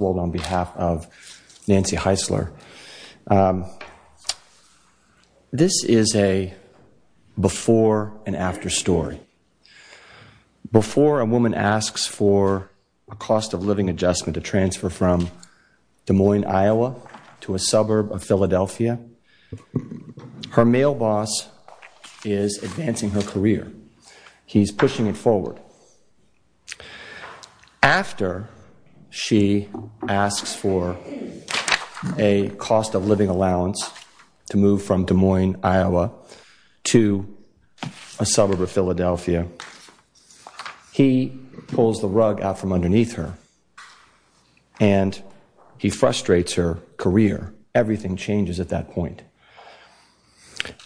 of Nancy Heisler. Before a woman asks for a cost of living adjustment to transfer from Des Moines, Iowa, to a suburb of Philadelphia, her husband pulls the rug out from underneath her, and he frustrates her career. Everything changes at that point.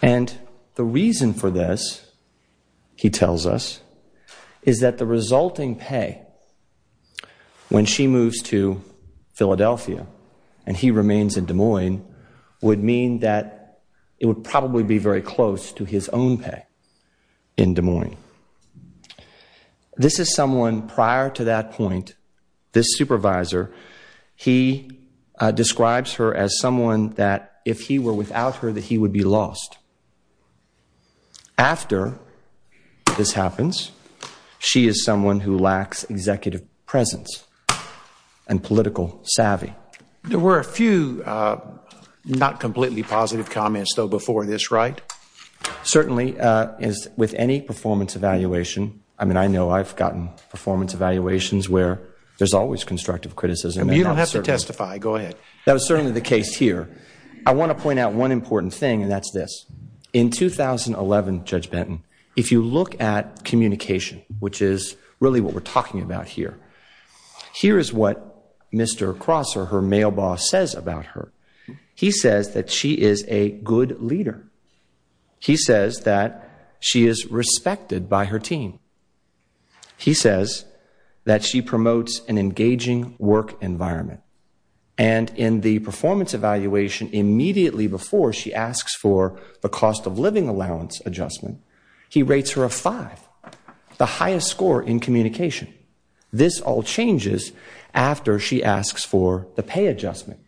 And the reason for this, he tells us, is that the resulting loss to Philadelphia, and he remains in Des Moines, would mean that it would probably be very close to his own pay in Des Moines. This is someone prior to that point, this supervisor, he describes her as someone that if he were without her that he would be lost. After this happens, she is someone who lacks executive presence and political savvy. There were a few not completely positive comments, though, before this, right? Certainly. With any performance evaluation, I mean, I know I've gotten performance evaluations where there's always constructive criticism. You don't have to testify. Go ahead. That was certainly the case here. I want to point out one important thing, and that's this. In 2011, Judge Benton, if you look at communication, which is really what we're talking about here, here is what Mr. Crosser, her mail boss, says about her. He says that she is a good leader. He says that she is respected by her team. He says that she promotes an engaging work environment. And in the performance evaluation, immediately before she asks for the cost of living allowance adjustment, he rates her a 5, the highest score in communication. This all changes after she asks for the pay adjustment,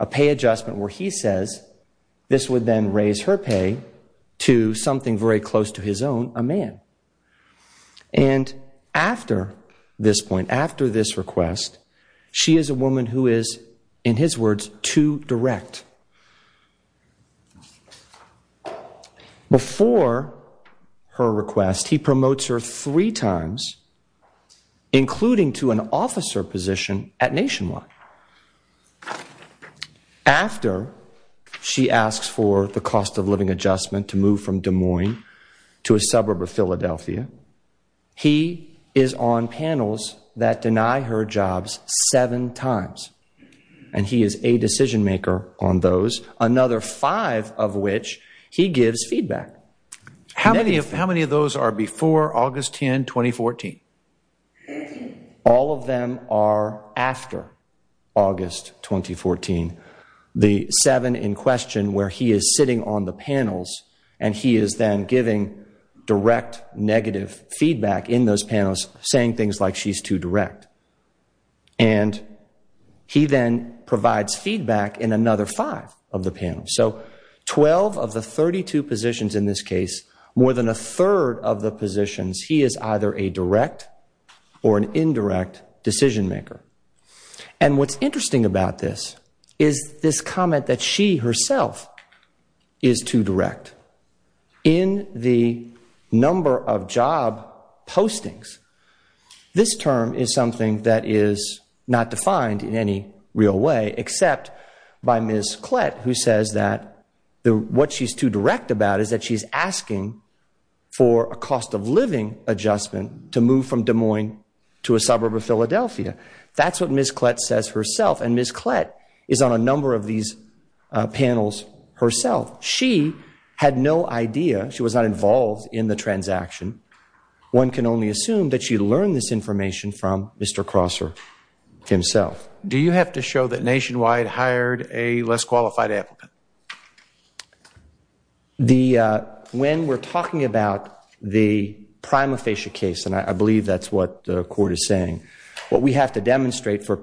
a pay adjustment where he says this would then raise her pay to something very close to his own, a man. And after this point, after this request, she is a woman who is, in his words, too direct. Before her request, he promotes her three times, including to an officer position at Nationwide. After she asks for the cost of living adjustment to move from Des Moines to Philadelphia, he is on panels that deny her jobs seven times. And he is a decision maker on those, another five of which he gives feedback. How many of those are before August 10, 2014? All of them are after August 2014. The seven in those panels say she's too direct. And he then provides feedback in another five of the panels. So 12 of the 32 positions in this case, more than a third of the positions, he is either a direct or an indirect decision maker. And what's interesting about this is this comment that she herself is too direct. In the number of job postings, this term is something that is not defined in any real way, except by Ms. Klett, who says that what she's too direct about is that she's asking for a cost of living adjustment to move from Des Moines to a suburb of Philadelphia. That's what Ms. Klett says herself. And Ms. Klett herself, she had no idea, she was not involved in the transaction. One can only assume that she learned this information from Mr. Crosser himself. When we're talking about the prima facie case, and I believe that's what the court is saying, what we have to look at is where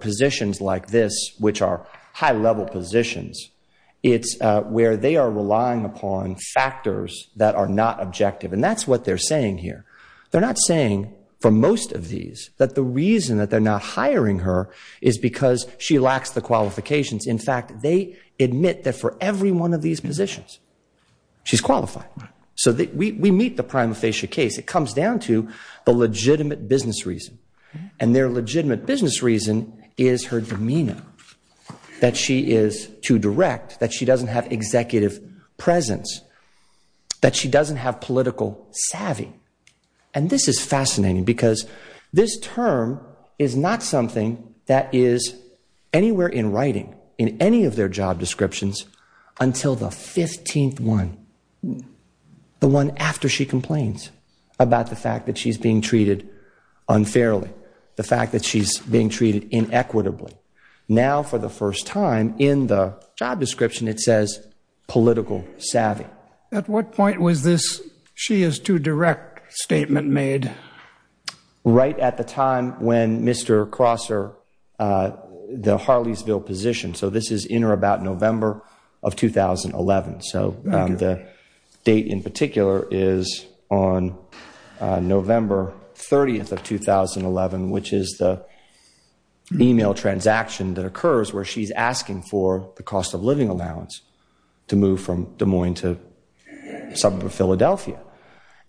they are relying upon factors that are not objective. And that's what they're saying here. They're not saying, for most of these, that the reason that they're not hiring her is because she lacks the qualifications. In fact, they admit that for every one of these positions, she's qualified. So we meet the prima facie case. It comes down to the legitimate business reason. And their executive presence. That she doesn't have political savvy. And this is fascinating, because this term is not something that is anywhere in writing, in any of their job descriptions, until the 15th one. The one after she complains about the fact that she's being treated unfairly. The fact that she's being treated inequitably. Now, for the first time in the job description, it says political savvy. At what point was this she is too direct statement made? Right at the time when Mr. Crosser, the Harleysville position. So this is in or about November of 2011. So the date in particular is on November 30th of 2011, which is the email transaction that occurs where she's asking for the cost of living allowance to move from Des Moines to Philadelphia.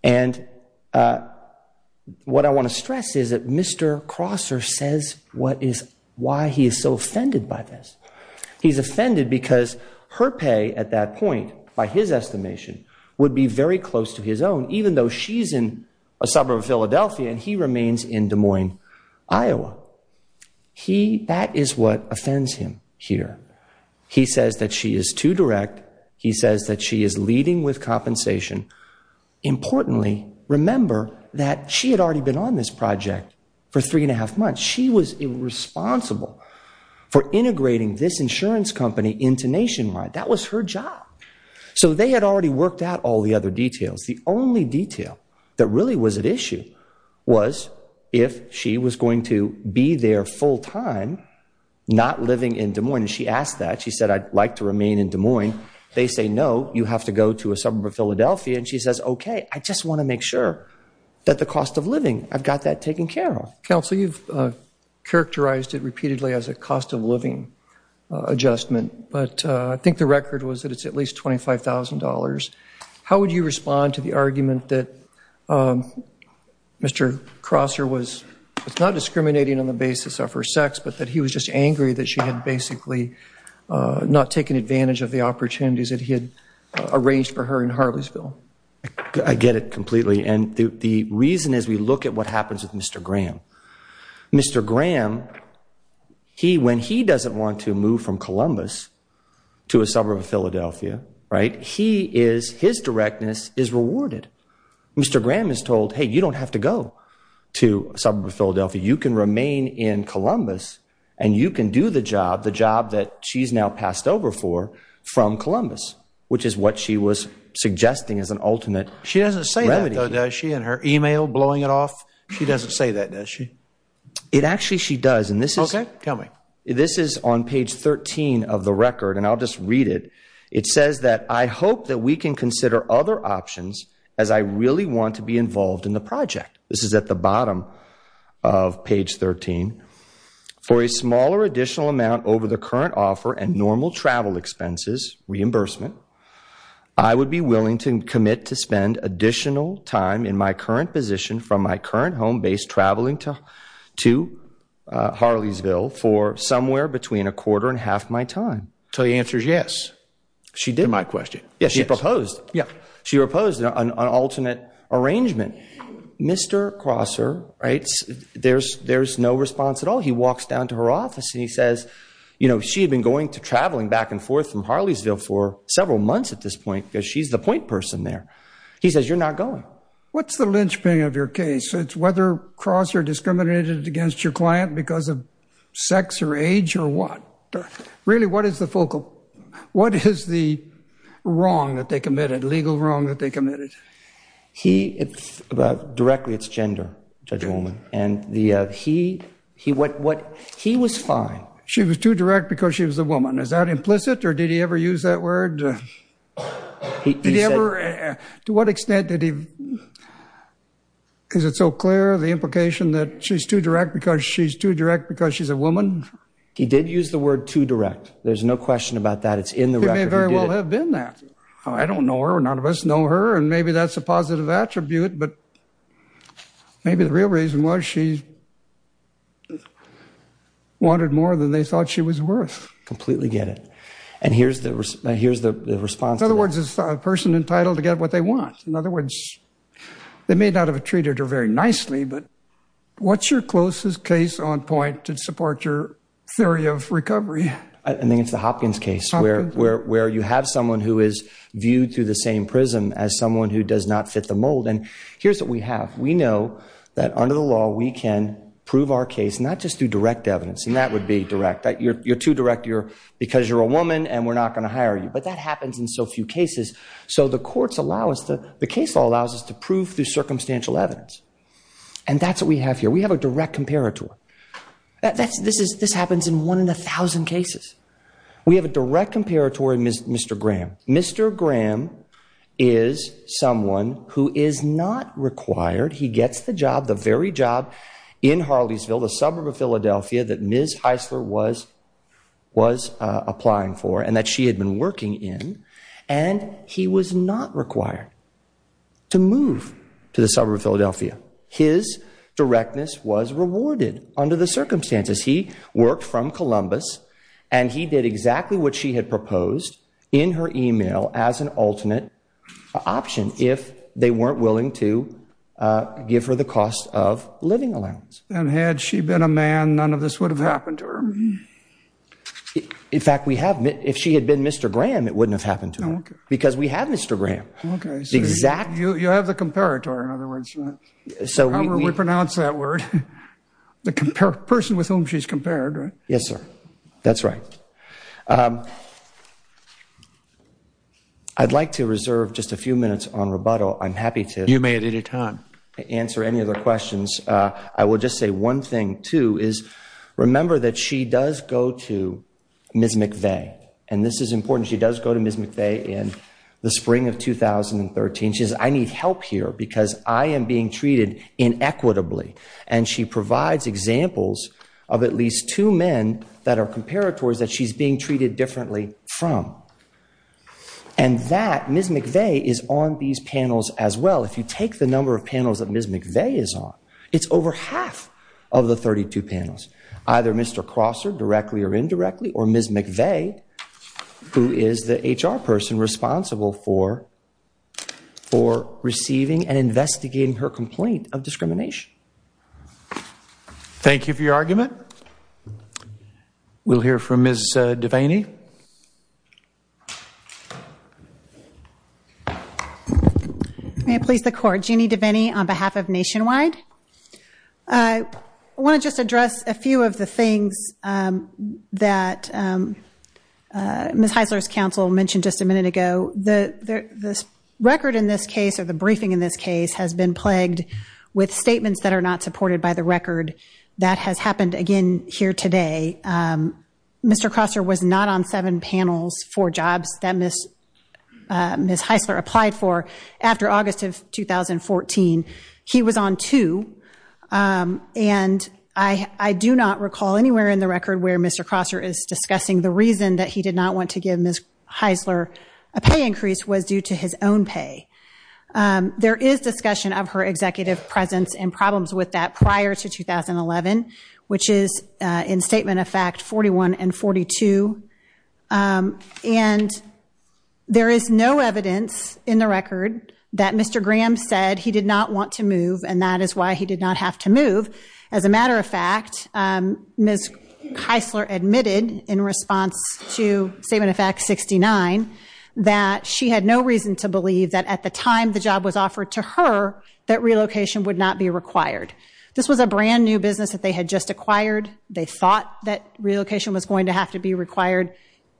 And what I want to stress is that Mr. Crosser says what is, why he is so offended by this. He's offended because her pay at that point, by his estimation, would be very close to his own, even though she's in a suburb of Philadelphia and he remains in Des Moines, Iowa. That is what offends him here. He says that she is too direct. He says that she is leading with compensation. Importantly, remember that she had already been on this project for three and a half months. She was irresponsible for integrating this insurance company into Nationwide. That was her job. So they had already worked out all the other details. The only detail that really was at issue was if she was going to be there full time, not living in Des Moines. She asked that. She said, I'd like to remain in Des Moines. They say, no, you have to go to a suburb of Philadelphia. And she says, okay, I just want to make sure that the cost of living, I've got that taken care of. Counsel, you've characterized it repeatedly as a cost of living adjustment, but I think the record was that it's at least $25,000. How would you respond to the argument that Mr. Crosser was not discriminating on the basis of her sex, but that he was just angry that she had basically not taken advantage of the opportunity? The reason is we look at what happens with Mr. Graham. Mr. Graham, when he doesn't want to move from Columbus to a suburb of Philadelphia, his directness is rewarded. Mr. Graham is told, hey, you don't have to go to a suburb of Philadelphia. You can remain in Columbus and you can do the job, the job that she's now passed over for from $25,000. She doesn't say that, though, does she, in her email blowing it off? She doesn't say that, does she? It actually she does, and this is on page 13 of the record, and I'll just read it. It says that I hope that we can consider other options as I really want to be involved in the project. This is at the bottom of page 13. For a smaller additional amount over the current offer and normal travel expenses reimbursement, I would be willing to commit to spend additional time in my current position from my current home base traveling to Harleysville for somewhere between a quarter and half my time. So the answer is yes, to my question. Yes, she proposed. She proposed an alternate arrangement. Mr. Crosser, right, there's no response at all. He walks down to her office and he says, you know, she had been going to traveling back and forth from Harleysville for several months at this point because she's the point person there. He says, you're not going. What's the linchpin of your case? It's whether Crosser discriminated against your client because of the wrong that they committed, legal wrong that they committed. Directly it's gender, Judge Woolman, and he was fine. She was too direct because she was a woman. Is that implicit or did he ever use that word? Did he ever, to what extent did he, is it so clear the implication that she's too direct because she's a woman? He did use the word too direct. There's no question about that. It's in the record. It may very well have been that. I don't know her, none of us know her, and maybe that's a positive attribute, but maybe the real reason was she wanted more than they thought she was worth. Completely get it. And here's the response. In other words, it's a person entitled to get what they want. In other words, they may not have treated her very nicely, but what's your closest case on point to support your theory of recovery? I think it's the Hopkins case where you have someone who is viewed through the same prism as someone who does not fit the mold. And here's what we have. We know that under the law we can prove our case not just through direct evidence, and that would be direct. You're too direct because you're a woman and we're not going to hire you. But that happens in so few cases. So the case law allows us to prove through circumstantial evidence. And that's what we have here. We have a direct comparator. This happens in one in a thousand cases. We have a direct comparator in Mr. Graham. Mr. Graham is someone who is not required. He gets the job, the very job in Harleysville, the suburb of Philadelphia that Ms. Heisler was applying for and that she had been working in, and he was not required to move to the suburb of Philadelphia. His directness was rewarded under the circumstances. He worked from Columbus and he did exactly what she had proposed in her email as an alternate option if they weren't willing to give her the cost of living allowance. And had she been a man, none of this would have happened to her? In fact, we have. If she had been Mr. Graham, it wouldn't have happened to her because we have Mr. Graham. You have the comparator, in other words. How do we pronounce that word? The person with whom she's compared, right? Yes, sir. That's right. I'd like to reserve just a few minutes on rebuttal. I'm happy to answer any other questions. I will just say one thing, too, is remember that she does go to Ms. McVeigh, and this is important. She does go to Ms. McVeigh in the spring of 2013. She says, I need help here because I am being treated inequitably. And she provides examples of at least two men that are comparators that she's being treated differently from. And that, Ms. McVeigh, is on these panels as well. If you take the number of panels that Ms. McVeigh is on, it's over half of the 32 panels. Either Mr. Crosser directly or indirectly, or Ms. McVeigh, who is the HR person responsible for receiving and investigating her complaint of discrimination. Thank you for your argument. We'll hear from Ms. Devaney. May it please the Court. Jeannie Devaney on behalf of Nationwide. I want to just address a few of the things that Ms. Heisler's counsel mentioned just a minute ago. The record in this case, or the briefing in this case, has been plagued with statements that are not supported by the record. That has happened again here today. Mr. Crosser was not on seven panels for jobs that Ms. Heisler applied for after August of 2014. He was on two. And I do not recall anywhere in the record where Mr. Crosser is discussing the reason that he did not want to give Ms. Heisler a pay increase was due to his own pay. There is discussion of her executive presence and problems with that prior to 2011, which is in statement of fact 41 and 42. And there is no evidence in the record that Mr. Graham said he did not want to move and that is why he did not have to move. As a matter of fact, Ms. Heisler admitted in response to statement of fact 69 that she had no reason to believe that at the time the job was offered to her, that relocation would not be required. This was a brand new business that they had just acquired. They thought that relocation was going to have to be required.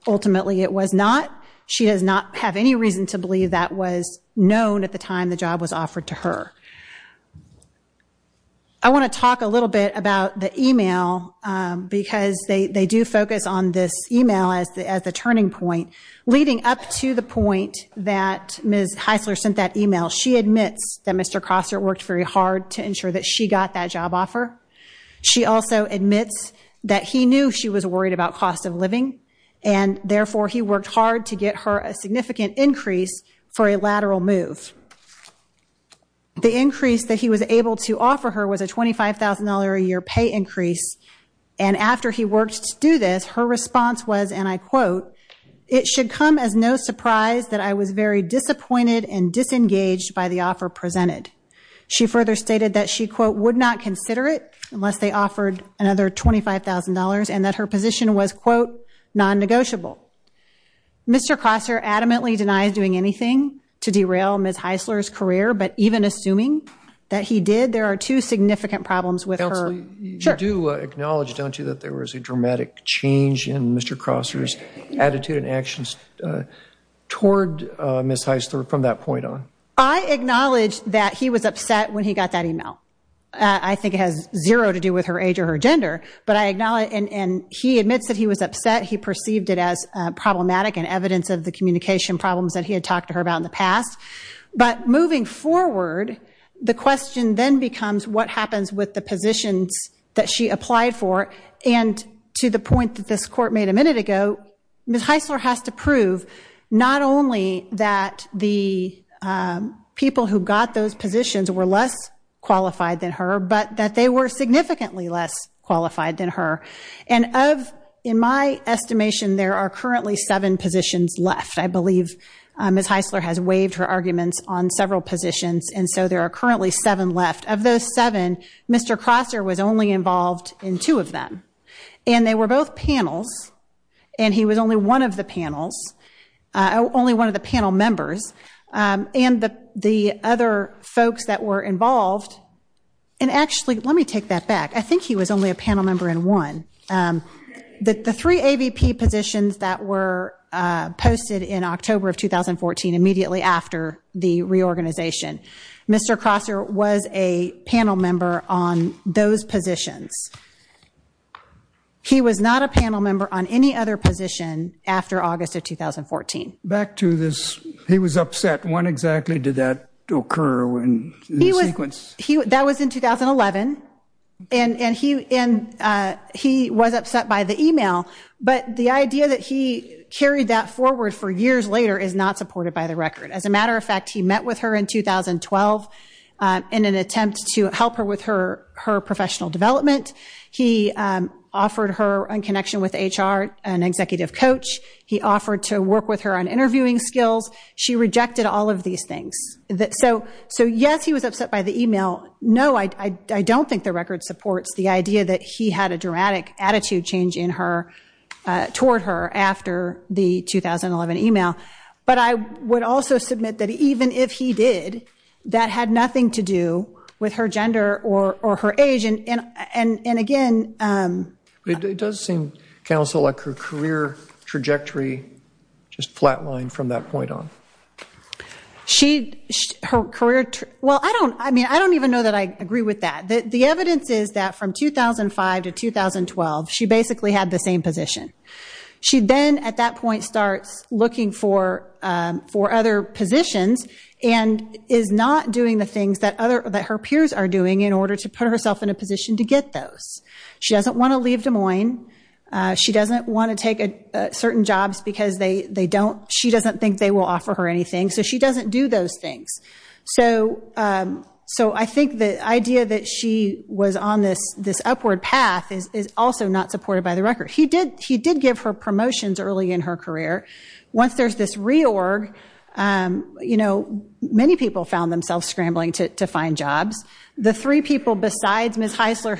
Ultimately it was not. She does not have any reason to believe that was known at the time the job was offered to her. I want to talk a little bit about the email because they do focus on this email as the turning point. Leading up to the point that Ms. Heisler sent that email, she admits that Mr. Crosser worked very hard to ensure that she got that job offer. She also admits that he knew she was worried about cost of living and therefore he worked hard to get her a significant increase for a lateral move. The increase that he was able to offer her was a $25,000 a year pay increase and after he worked to do this, her response was and I quote, it should come as no surprise that I was very disappointed and disengaged by the offer presented. She further stated that she quote would not consider it unless they offered another $25,000 and that her position was quote non-negotiable. Mr. Crosser adamantly denies doing anything to derail Ms. Heisler's career but even assuming that he did, there are two significant problems with her. You do acknowledge don't you that there was a dramatic change in Mr. Crosser's attitude and actions toward Ms. Heisler from that point on? I acknowledge that he was upset when he got that email. I think it has zero to do with her age or her gender but I acknowledge and he admits that he was upset. He perceived it as problematic and evidence of the communication problems that he had talked to her about in the past but moving forward, the question then becomes what happens with the positions that she applied for and to the point that this court made a minute ago, Ms. Heisler has to prove not only that the people who got those positions were less qualified than her but that they were significantly less qualified than her and of in my arguments on several positions and so there are currently seven left. Of those seven, Mr. Crosser was only involved in two of them and they were both panels and he was only one of the panels, only one of the panel members and the other folks that were involved and actually let me take that back. I think he was only a panel member in one. The three AVP positions that were posted in October of 2014 immediately after the reorganization. Mr. Crosser was a panel member on those positions. He was not a panel member on any other position after August of 2014. Back to this, he was upset. When exactly did that occur in the sequence? That was in 2011 and he was upset by the email but the idea that he carried that forward for years later is not supported by the record. As a matter of fact, he met with her in 2012 in an attempt to help her with her professional development. He offered her a connection with HR, an executive coach. He offered to work with her on interviewing skills. She rejected all of these things. So yes, he was upset by the email. No, I don't think the record supports the idea that he had a dramatic attitude change in her toward her after the 2011 email. But I would also submit that even if he did, that had nothing to do with her gender or her age and again... It does seem, counsel, like her career trajectory just flatlined from that point on. I don't even know that I agree with that. The evidence is that from 2005 to 2012, she basically had the same position. She then at that point starts looking for other positions and is not doing the things that her peers are doing in order to put herself in a position to find certain jobs because she doesn't think they will offer her anything. So she doesn't do those things. So I think the idea that she was on this upward path is also not supported by the record. He did give her promotions early in her career. Once there's this reorg, many people found themselves scrambling to find jobs. The three people besides Ms. Eisler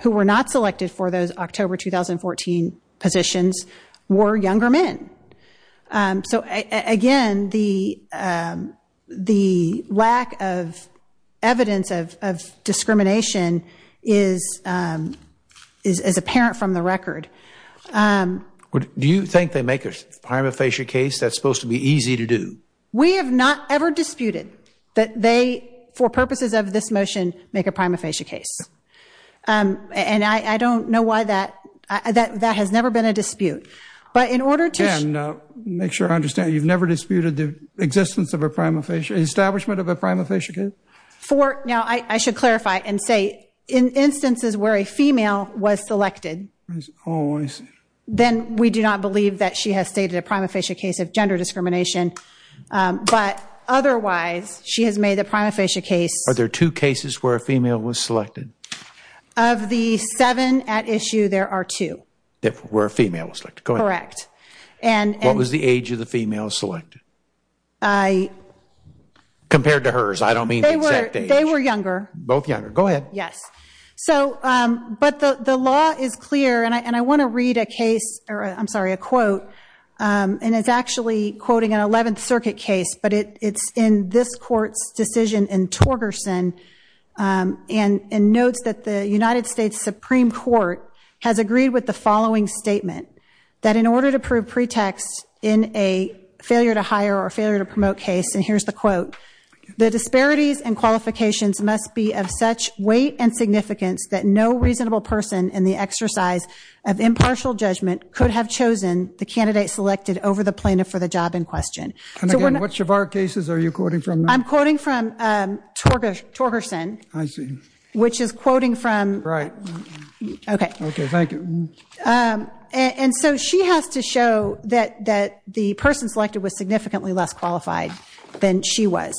who were not selected for those October 2014 positions were younger men. So again, the lack of evidence of discrimination is apparent from the record. Do you think they make a prima facie case that's supposed to be easy to do? We have not ever disputed that they, for purposes of this motion, make a prima facie case. And I don't know why that has never been a dispute. But in order to make sure I understand, you've never disputed the establishment of a prima facie case? I should clarify and say in instances where a female was selected, then we do not otherwise. She has made the prima facie case. Are there two cases where a female was selected? Of the seven at issue, there are two. Where a female was selected. Correct. What was the age of the female selected? Compared to hers. I don't mean the exact age. They were younger. Both younger. Go ahead. But the law is clear, and I want to read a case, in this court's decision in Torgerson, and notes that the United States Supreme Court has agreed with the following statement, that in order to prove pretext in a failure to hire or failure to promote case, and here's the quote, the disparities and qualifications must be of such weight and significance that no reasonable person in the exercise of impartial judgment could have chosen the candidate selected over the plaintiff for the job in question. Which of our cases are you quoting from? I'm quoting from Torgerson. I see. Which is quoting from Right. Okay. Thank you. And so she has to show that the person selected was significantly less qualified than she was.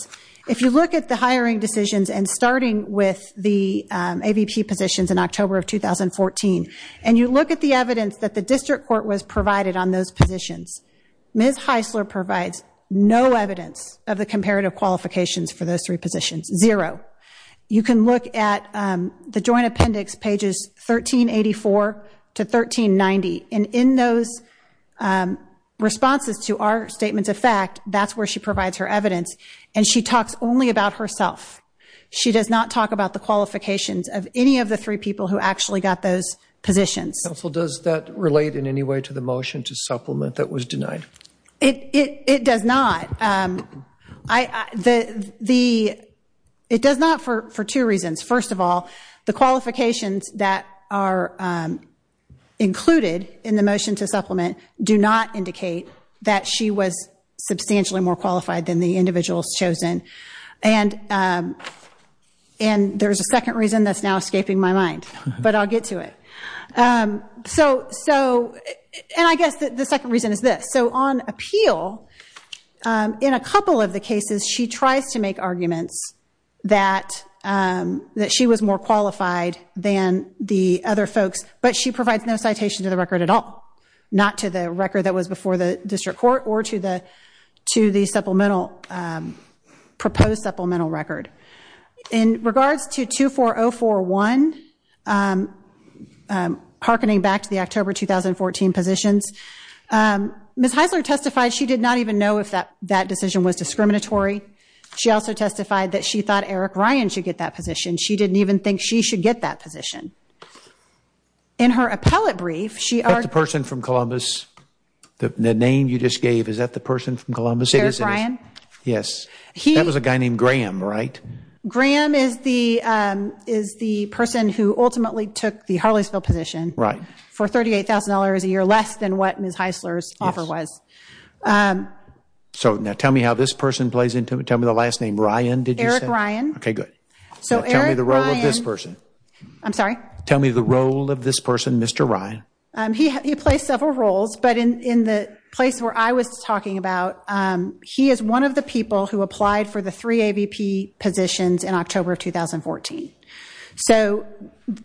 If you look at the hiring decisions, and starting with the AVP positions in October of 2014, and you look at the evidence that the district court was provided on those positions, Ms. Heisler provides no evidence of the comparative qualifications for those three positions. Zero. You can look at the joint appendix pages 1384 to 1390, and in those responses to our statements of fact, that's where she provides her evidence, and she talks only about herself. She does not talk about the qualifications of any of the three people who actually got those positions. Counsel, does that relate in any way to the motion to supplement that was denied? It does not. It does not for two reasons. First of all, the qualifications that are included in the motion to supplement do not and there's a second reason that's now escaping my mind, but I'll get to it. And I guess the second reason is this. So on appeal, in a couple of the cases, she tries to make arguments that she was more qualified than the other folks, but she provides no citation to the record at all. Not to the record that was supplemental record. In regards to 24041, hearkening back to the October 2014 positions, Ms. Heisler testified she did not even know if that decision was discriminatory. She also testified that she thought Eric Ryan should get that position. She didn't even think she should get that position. In her appellate brief, she argued... Is that the person from Columbus? The name you just gave, is that the person from Columbus? Eric Ryan? Yes. That was a guy named Graham, right? Graham is the person who ultimately took the Harleysville position for $38,000 a year, less than what Ms. Heisler's offer was. So now tell me how this person plays into it. Tell me the last name. Ryan, did you say? Eric Ryan. Okay, good. Now tell me the role of this person. I'm sorry? Tell me the role of this person, Mr. Ryan. He plays several roles, but in the place where I was talking about, he is one of the people who applied for the three AVP positions in October 2014.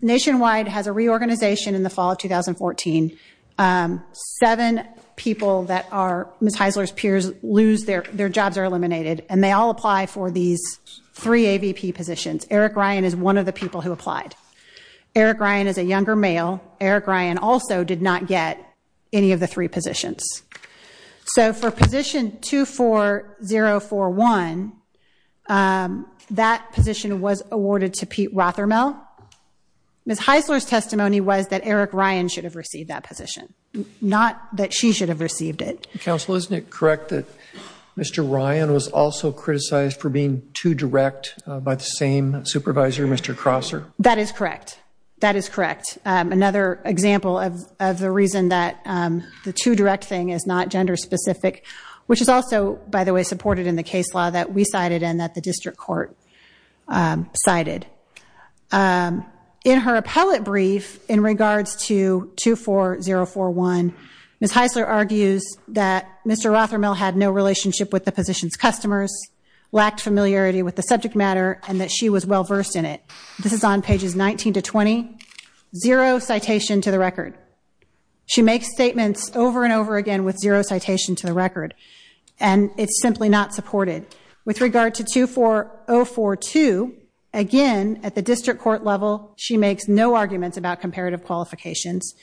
Nationwide has a reorganization in the fall of 2014. Seven people that are Ms. Heisler's peers lose their jobs or are eliminated, and they all apply for these three AVP positions. Eric Ryan is one of the people who applied. Eric Ryan is a younger male. Eric Ryan also did not get any of the three positions. So for position 24041, that position was awarded to Pete Rothermel. Ms. Heisler's testimony was that Eric Ryan should have received that position, not that she should have received it. Counsel, isn't it correct that Mr. Ryan was also criticized for being too direct by the same supervisor, Mr. Crosser? That is correct. That is correct. Another example of the reason that the too direct thing is not gender specific, which is also, by the way, supported in the case law that we cited and that the district court cited. In her appellate brief in regards to 24041, Ms. Heisler argues that Mr. Rothermel had no relationship with the position's customers, lacked familiarity with the subject matter, and that she was well versed in it. This is on pages 19 to 20. Zero citation to the record. She makes statements over and over again with zero citation to the record, and it's simply not supported. With regard to 24042, again, at the district court level, she makes no arguments about comparative qualifications,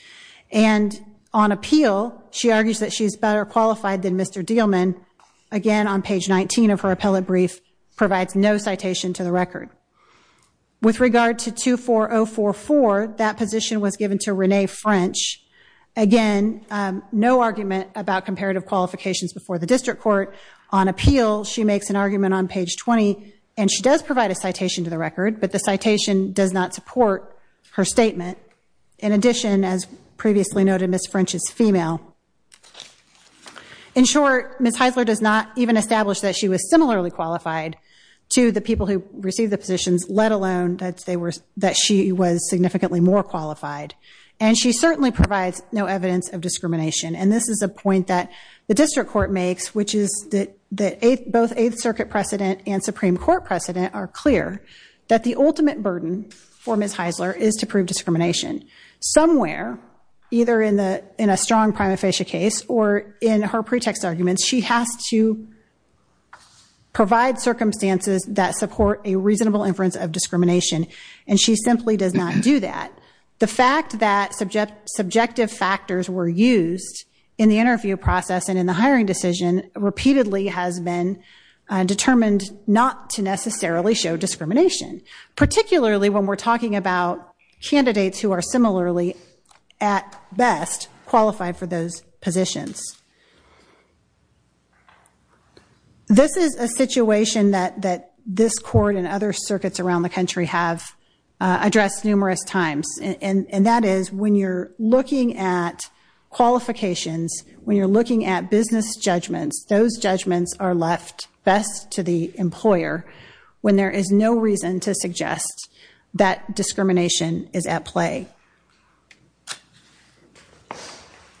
and on appeal she argues that she's better qualified than Mr. Dielman. Again, on page 19 of her appellate brief, provides no citation to the record. With regard to 24044, that position was given to Renee French. Again, no argument about comparative qualifications before the district court. On appeal, she makes an argument on page 20, and she does provide a citation to the record, but the citation does not support her statement. In addition, as previously noted, Ms. French is female. In short, Ms. Heisler does not even establish that she was similarly qualified to the people who received the positions, let alone that she was significantly more qualified. And she certainly provides no evidence of discrimination, and this is a point that the district court makes, which is that both Eighth Circuit precedent and Supreme Court precedent are clear that the ultimate burden for Ms. Heisler is to prove discrimination. Somewhere, either in a strong prima facie case or in her pretext arguments, she has to and she simply does not do that. The fact that subjective factors were used in the interview process and in the hiring decision repeatedly has been determined not to necessarily show discrimination, particularly when we're talking about candidates who are similarly, at best, qualified for those positions. This is a situation that this court and other circuits around the country have addressed numerous times, and that is when you're looking at qualifications, when you're looking at business judgments, those judgments are left best to the employer when there is no reason to suggest that discrimination is at stake.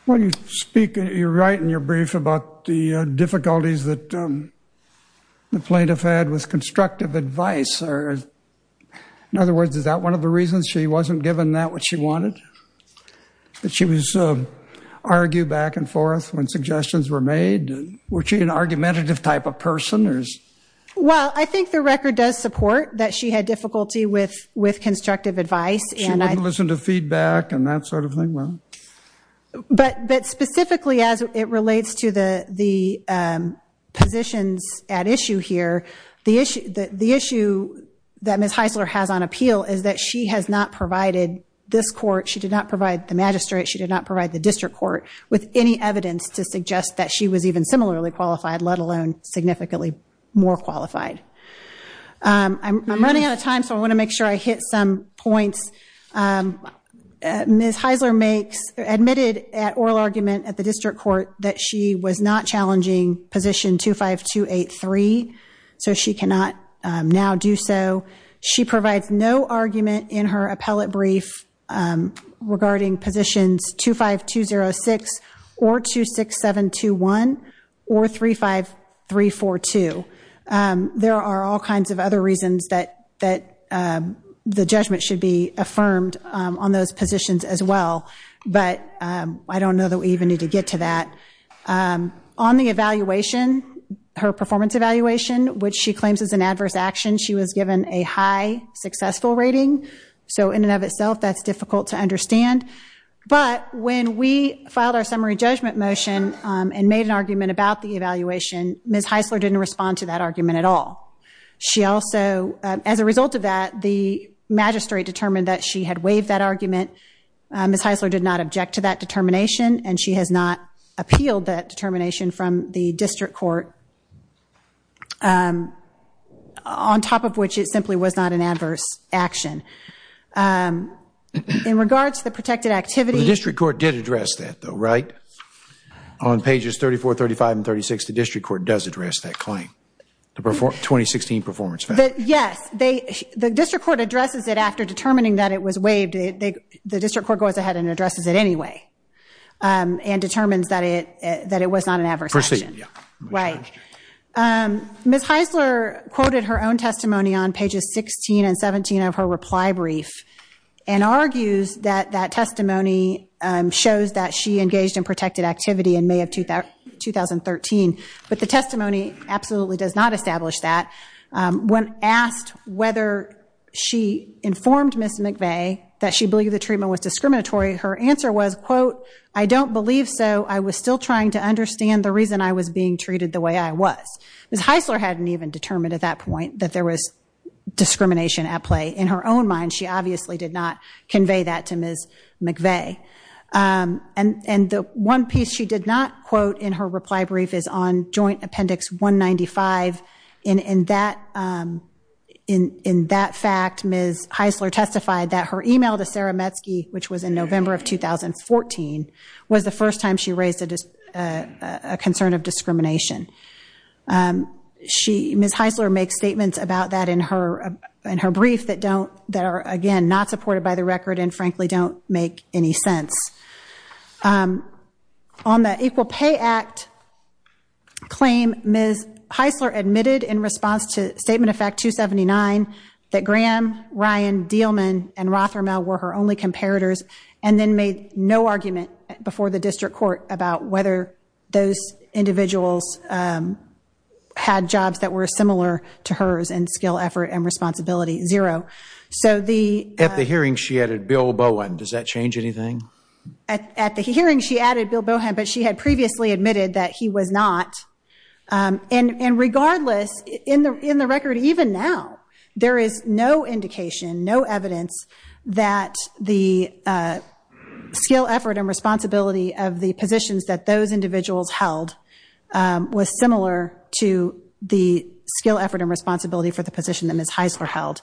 You're right in your brief about the difficulties that the plaintiff had with constructive advice. In other words, is that one of the reasons she wasn't given what she wanted? That she was argued back and forth when suggestions were made? Was she an argumentative type of person? Well, I think the record does support that she had difficulty with constructive advice. She wouldn't listen to feedback and that sort of thing? Specifically, as it relates to the positions at issue here, the issue that Ms. Heisler has on appeal is that she has not provided this court, she did not provide the magistrate, she did not provide the district court with any evidence to suggest that she was even similarly qualified, let alone significantly more qualified. I'm running out of time, so I want to make sure I hit some points. Ms. Heisler admitted at oral argument at the district court that she was not challenging position 25283, so she cannot now do so. She provides no argument in her appellate brief regarding positions 25206 or 26721 or 35342. There are all kinds of other reasons that the judgment should be affirmed on those positions as well, but I don't know that we even need to get to that. On the evaluation, her performance evaluation, which she claims is an adverse action, she was given a high successful rating, so in and of itself that's difficult to understand, but when we filed our summary judgment motion and made an argument about the evaluation, Ms. Heisler didn't respond to that argument at all. She also, as a result of that, the magistrate determined that she had waived that argument. Ms. Heisler did not object to that determination and she has not appealed that determination from the district court, on top of which it simply was not an adverse action. In regards to the protected activity... The district court did address that though, right? On pages 34, 35, and 36, the district court does address that claim, the 2016 performance value. Yes, the district court addresses it and after determining that it was waived, the district court goes ahead and addresses it anyway and determines that it was not an adverse action. Ms. Heisler quoted her own testimony on pages 16 and 17 of her reply brief and argues that that testimony shows that she engaged in protected activity in May of 2013, but the testimony absolutely does not establish that. When asked whether she informed Ms. McVeigh that she believed the treatment was discriminatory, her answer was, quote, I don't believe so. I was still trying to understand the reason I was being treated the way I was. Ms. Heisler hadn't even determined at that point that there was discrimination at play. In her own mind, she obviously did not convey that to Ms. McVeigh. And the one piece she did not quote in her reply brief is on joint appendix 195. In that fact, Ms. Heisler testified that her email to Sarah Metzke, which was in November of 2014, was the first time she raised a concern of discrimination. Ms. Heisler makes statements about that in her brief that are, again, not supported by the record and frankly don't make any sense. On the Equal Pay Act claim, Ms. Heisler admitted in response to Statement of Fact 279 that Graham, Ryan, Diehlmann, and Rothermel were her only comparators and then made no argument before the district court about whether those individuals had jobs that were similar to hers in skill, effort, and responsibility. Zero. At the hearing, she added Bill Bowen. Does that change anything? At the hearing, she added Bill Bowen, but she had previously admitted that he was not. And regardless, in the record even now, there is no indication, no evidence that the skill, effort, and responsibility of the positions that those individuals held was similar to the skill, effort, and responsibility for the position that Ms. Heisler held.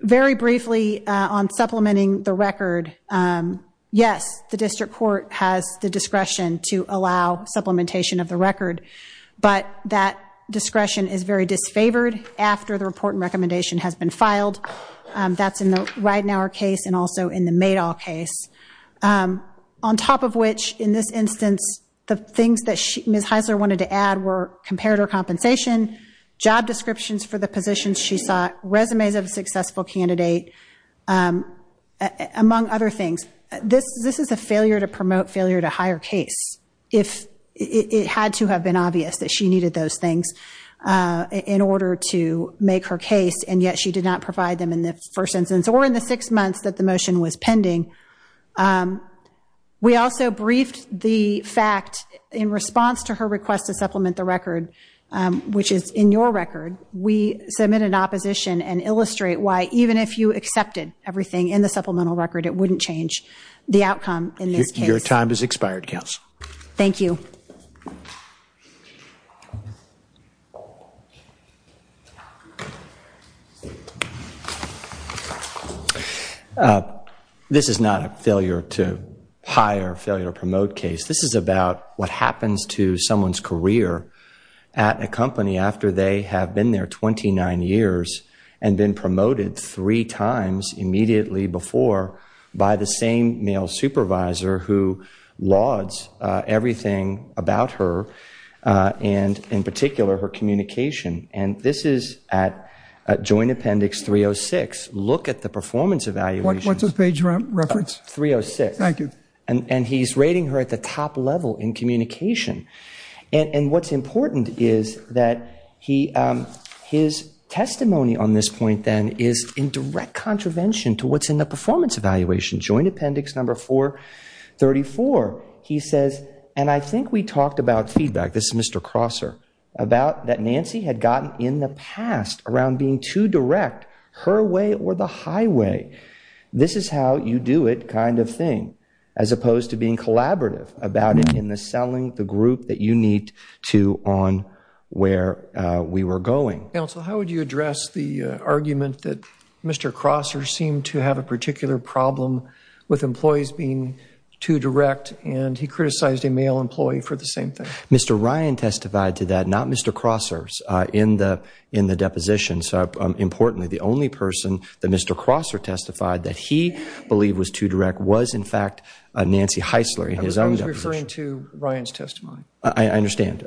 Very briefly on supplementing the record, yes, the district court has the discretion to allow supplementation of the record, but that discretion is very disfavored after the report and recommendation has been filed. That's in the Ridenhour case and also in the Madoff case. On top of which, in this instance, the things that Ms. Heisler wanted to add were comparator compensation, job descriptions for the positions she sought, resumes of a successful candidate, among other things. This is a failure to promote failure to hire case. It had to have been obvious that she needed those things in order to make her case, and yet she did not provide them in the first instance or in the six months that the motion was pending. We also briefed the fact in response to her request to supplement the record, which is in your record, we submit an opposition and illustrate why even if you accepted everything in the supplemental record, it wouldn't change the outcome in this case. Your time has expired, Counsel. This is not a failure to hire, failure to promote case. This is about what happens to someone's career at a company after they have been there 29 years and been promoted three times immediately before by the same male supervisor who lauds everything about her and, in particular, her communication. And this is at Joint Appendix 306. Look at the performance evaluation. What's the page reference? 306. Thank you. And he's rating her at the top level in communication. And what's important is that his testimony on this point, then, is in direct contravention to what's in the performance evaluation, Joint Appendix 434. He says, and I think we talked about feedback, this is Mr. Crosser, about that Nancy had gotten in the past around being too direct, her way or the highway. This is how you do it kind of thing, as opposed to being collaborative about it in the selling the group that you need to on where we were going. Counsel, how would you address the argument that Mr. Crosser seemed to have a particular problem with employees being too direct and he criticized a male employee for the same thing? Mr. Ryan testified to that, not Mr. Crosser's, in the depositions. Importantly, the only person that Mr. Crosser testified that he believed was too direct was, in fact, Nancy Heisler. I was referring to Ryan's testimony. I understand.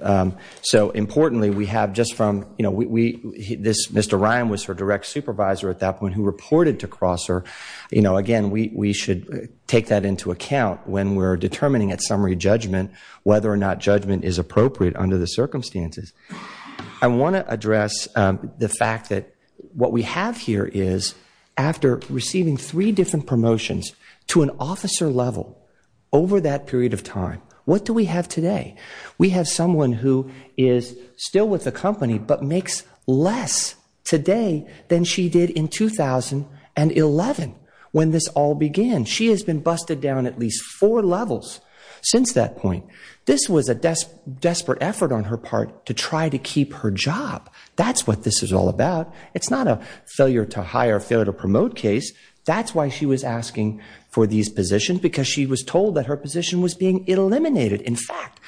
Importantly, we have just from, Mr. Ryan was her direct supervisor at that point who reported to Crosser. Again, we should take that into account when we're determining at summary judgment whether or not judgment is appropriate under the circumstances. I want to address the fact that what we have here is after receiving three different promotions to an officer level over that period of time, what do we have today? We have someone who is still with the company but makes less today than she did in 2011 when this all began. She has been busted down at least four levels since that point. This was a desperate effort on her part to try to keep her job. That's what this is all about. It's not a failure to hire, failure to promote case. That's why she was asking for these positions because she was told that her position was being eliminated. In fact,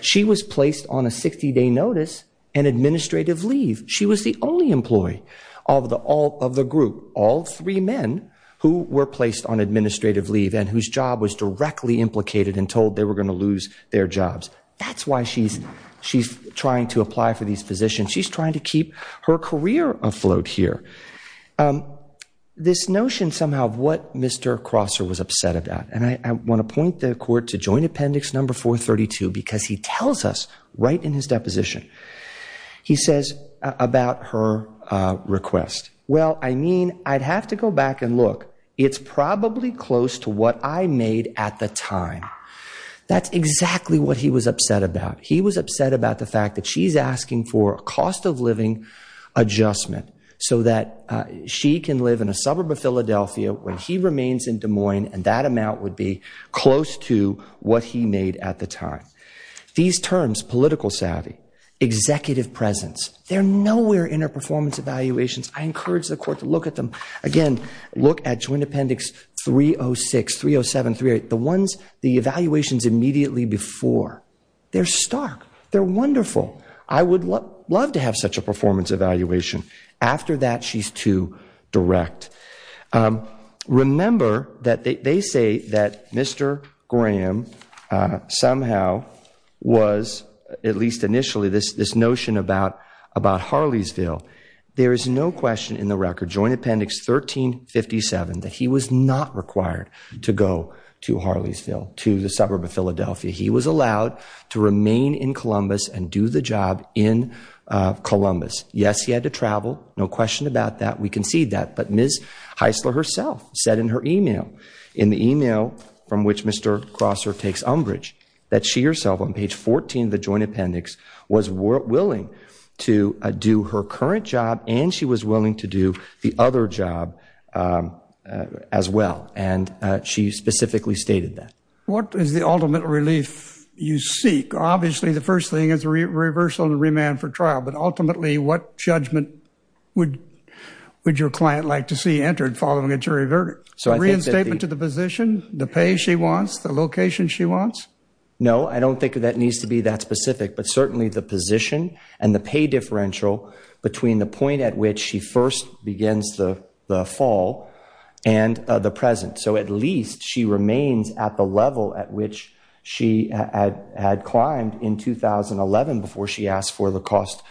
she was placed on a 60 day notice and administrative leave. She was the only employee of the group, all three men who were employed. She was the only employee of the group. She was the only employee of the group who was able to keep their jobs. That's why she's trying to apply for these positions. She's trying to keep her career afloat here. This notion somehow of what Mr. Crosser was upset about, and I want to point the court to joint appendix number 432 because he tells us right in his deposition. He says about her request, well, I mean, I'd have to go back and look. It's probably close to what I made at the time. That's exactly what he was upset about. He was upset about the fact that she's asking for cost of living adjustment so that she can live in a suburb of Philadelphia when he remains in Des Moines and that amount would be close to what he made at the time. These terms, political savvy, executive presence, they're nowhere in her performance evaluations. I encourage the court to look at them. Again, look at joint appendix 306, 307, 308, the ones, the evaluations immediately before. They're stark. They're wonderful. I would love to have such a performance evaluation. After that, she's too direct. Remember that they say that Mr. Graham somehow was, at least initially, this notion about Harleysville. There is no question in the record, joint appendix 1357, that he was not required to go to Harleysville, to the suburb of Philadelphia. He was allowed to remain in Columbus and do the job in Columbus. Yes, he had to travel. No question about that. We concede that. But Ms. Heisler herself said in her email, in the email from which Mr. Crosser takes umbrage, that she herself on page 14 of the joint appendix was willing to do her current job and she was willing to do the other job as well. And she specifically stated that. What is the ultimate relief you seek? Obviously the first thing is a reversal and remand for trial, but ultimately what judgment would your client like to see entered following a jury verdict? Reinstatement to the position, the pay she wants, the location she wants? No, I don't think that needs to be that specific, but certainly the position and the pay differential between the point at which she first begins the fall and the present. So at least she remains at the level at which she had climbed in 2011 before she asked for the cost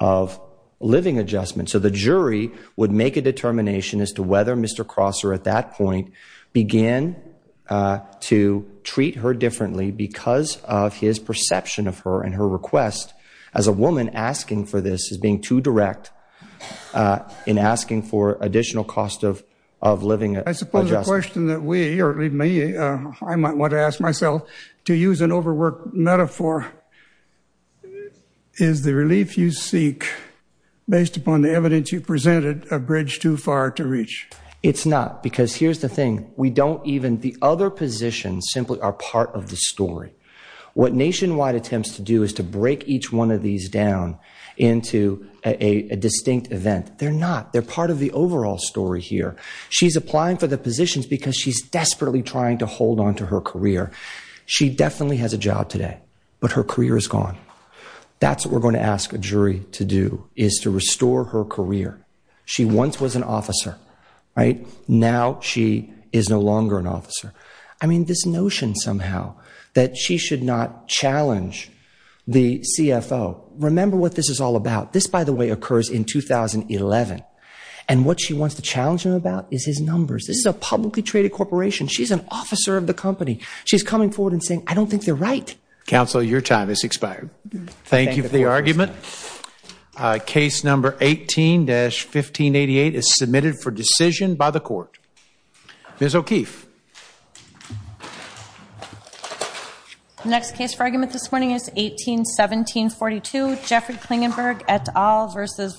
of living adjustment. So the jury would make a determination as to whether Mr. Crosser at that point began to treat her differently because of his perception of her and her request as a woman asking for this as being too direct in asking for additional cost of living adjustment. I suppose the question that we, or leave me, I might want to ask myself, to use an overworked metaphor, is the relief you seek based upon the evidence you presented a bridge too far to reach? It's not, because here's the thing, we don't even, the other positions simply are part of the story. What Nationwide attempts to do is to break each one of these down into a distinct event. They're not. They're part of the overall story here. She's applying for the positions because she's desperately trying to hold on to her career. She definitely has a job today, but her career is gone. That's what we're going to ask a jury to do, is to restore her career. She once was an officer. I mean, this notion somehow that she should not challenge the CFO. Remember what this is all about. This, by the way, occurs in 2011. And what she wants to challenge him about is his numbers. This is a publicly traded corporation. She's an officer of the company. She's coming forward and saying, I don't think they're right. Counsel, your time has expired. Thank you for the argument. Case number 18-1588 is submitted for decision by the court. Ms. O'Keefe. The next case for argument this morning is 18-1742. Jeffrey Klingenberg et al. versus Ms. O'Keefe.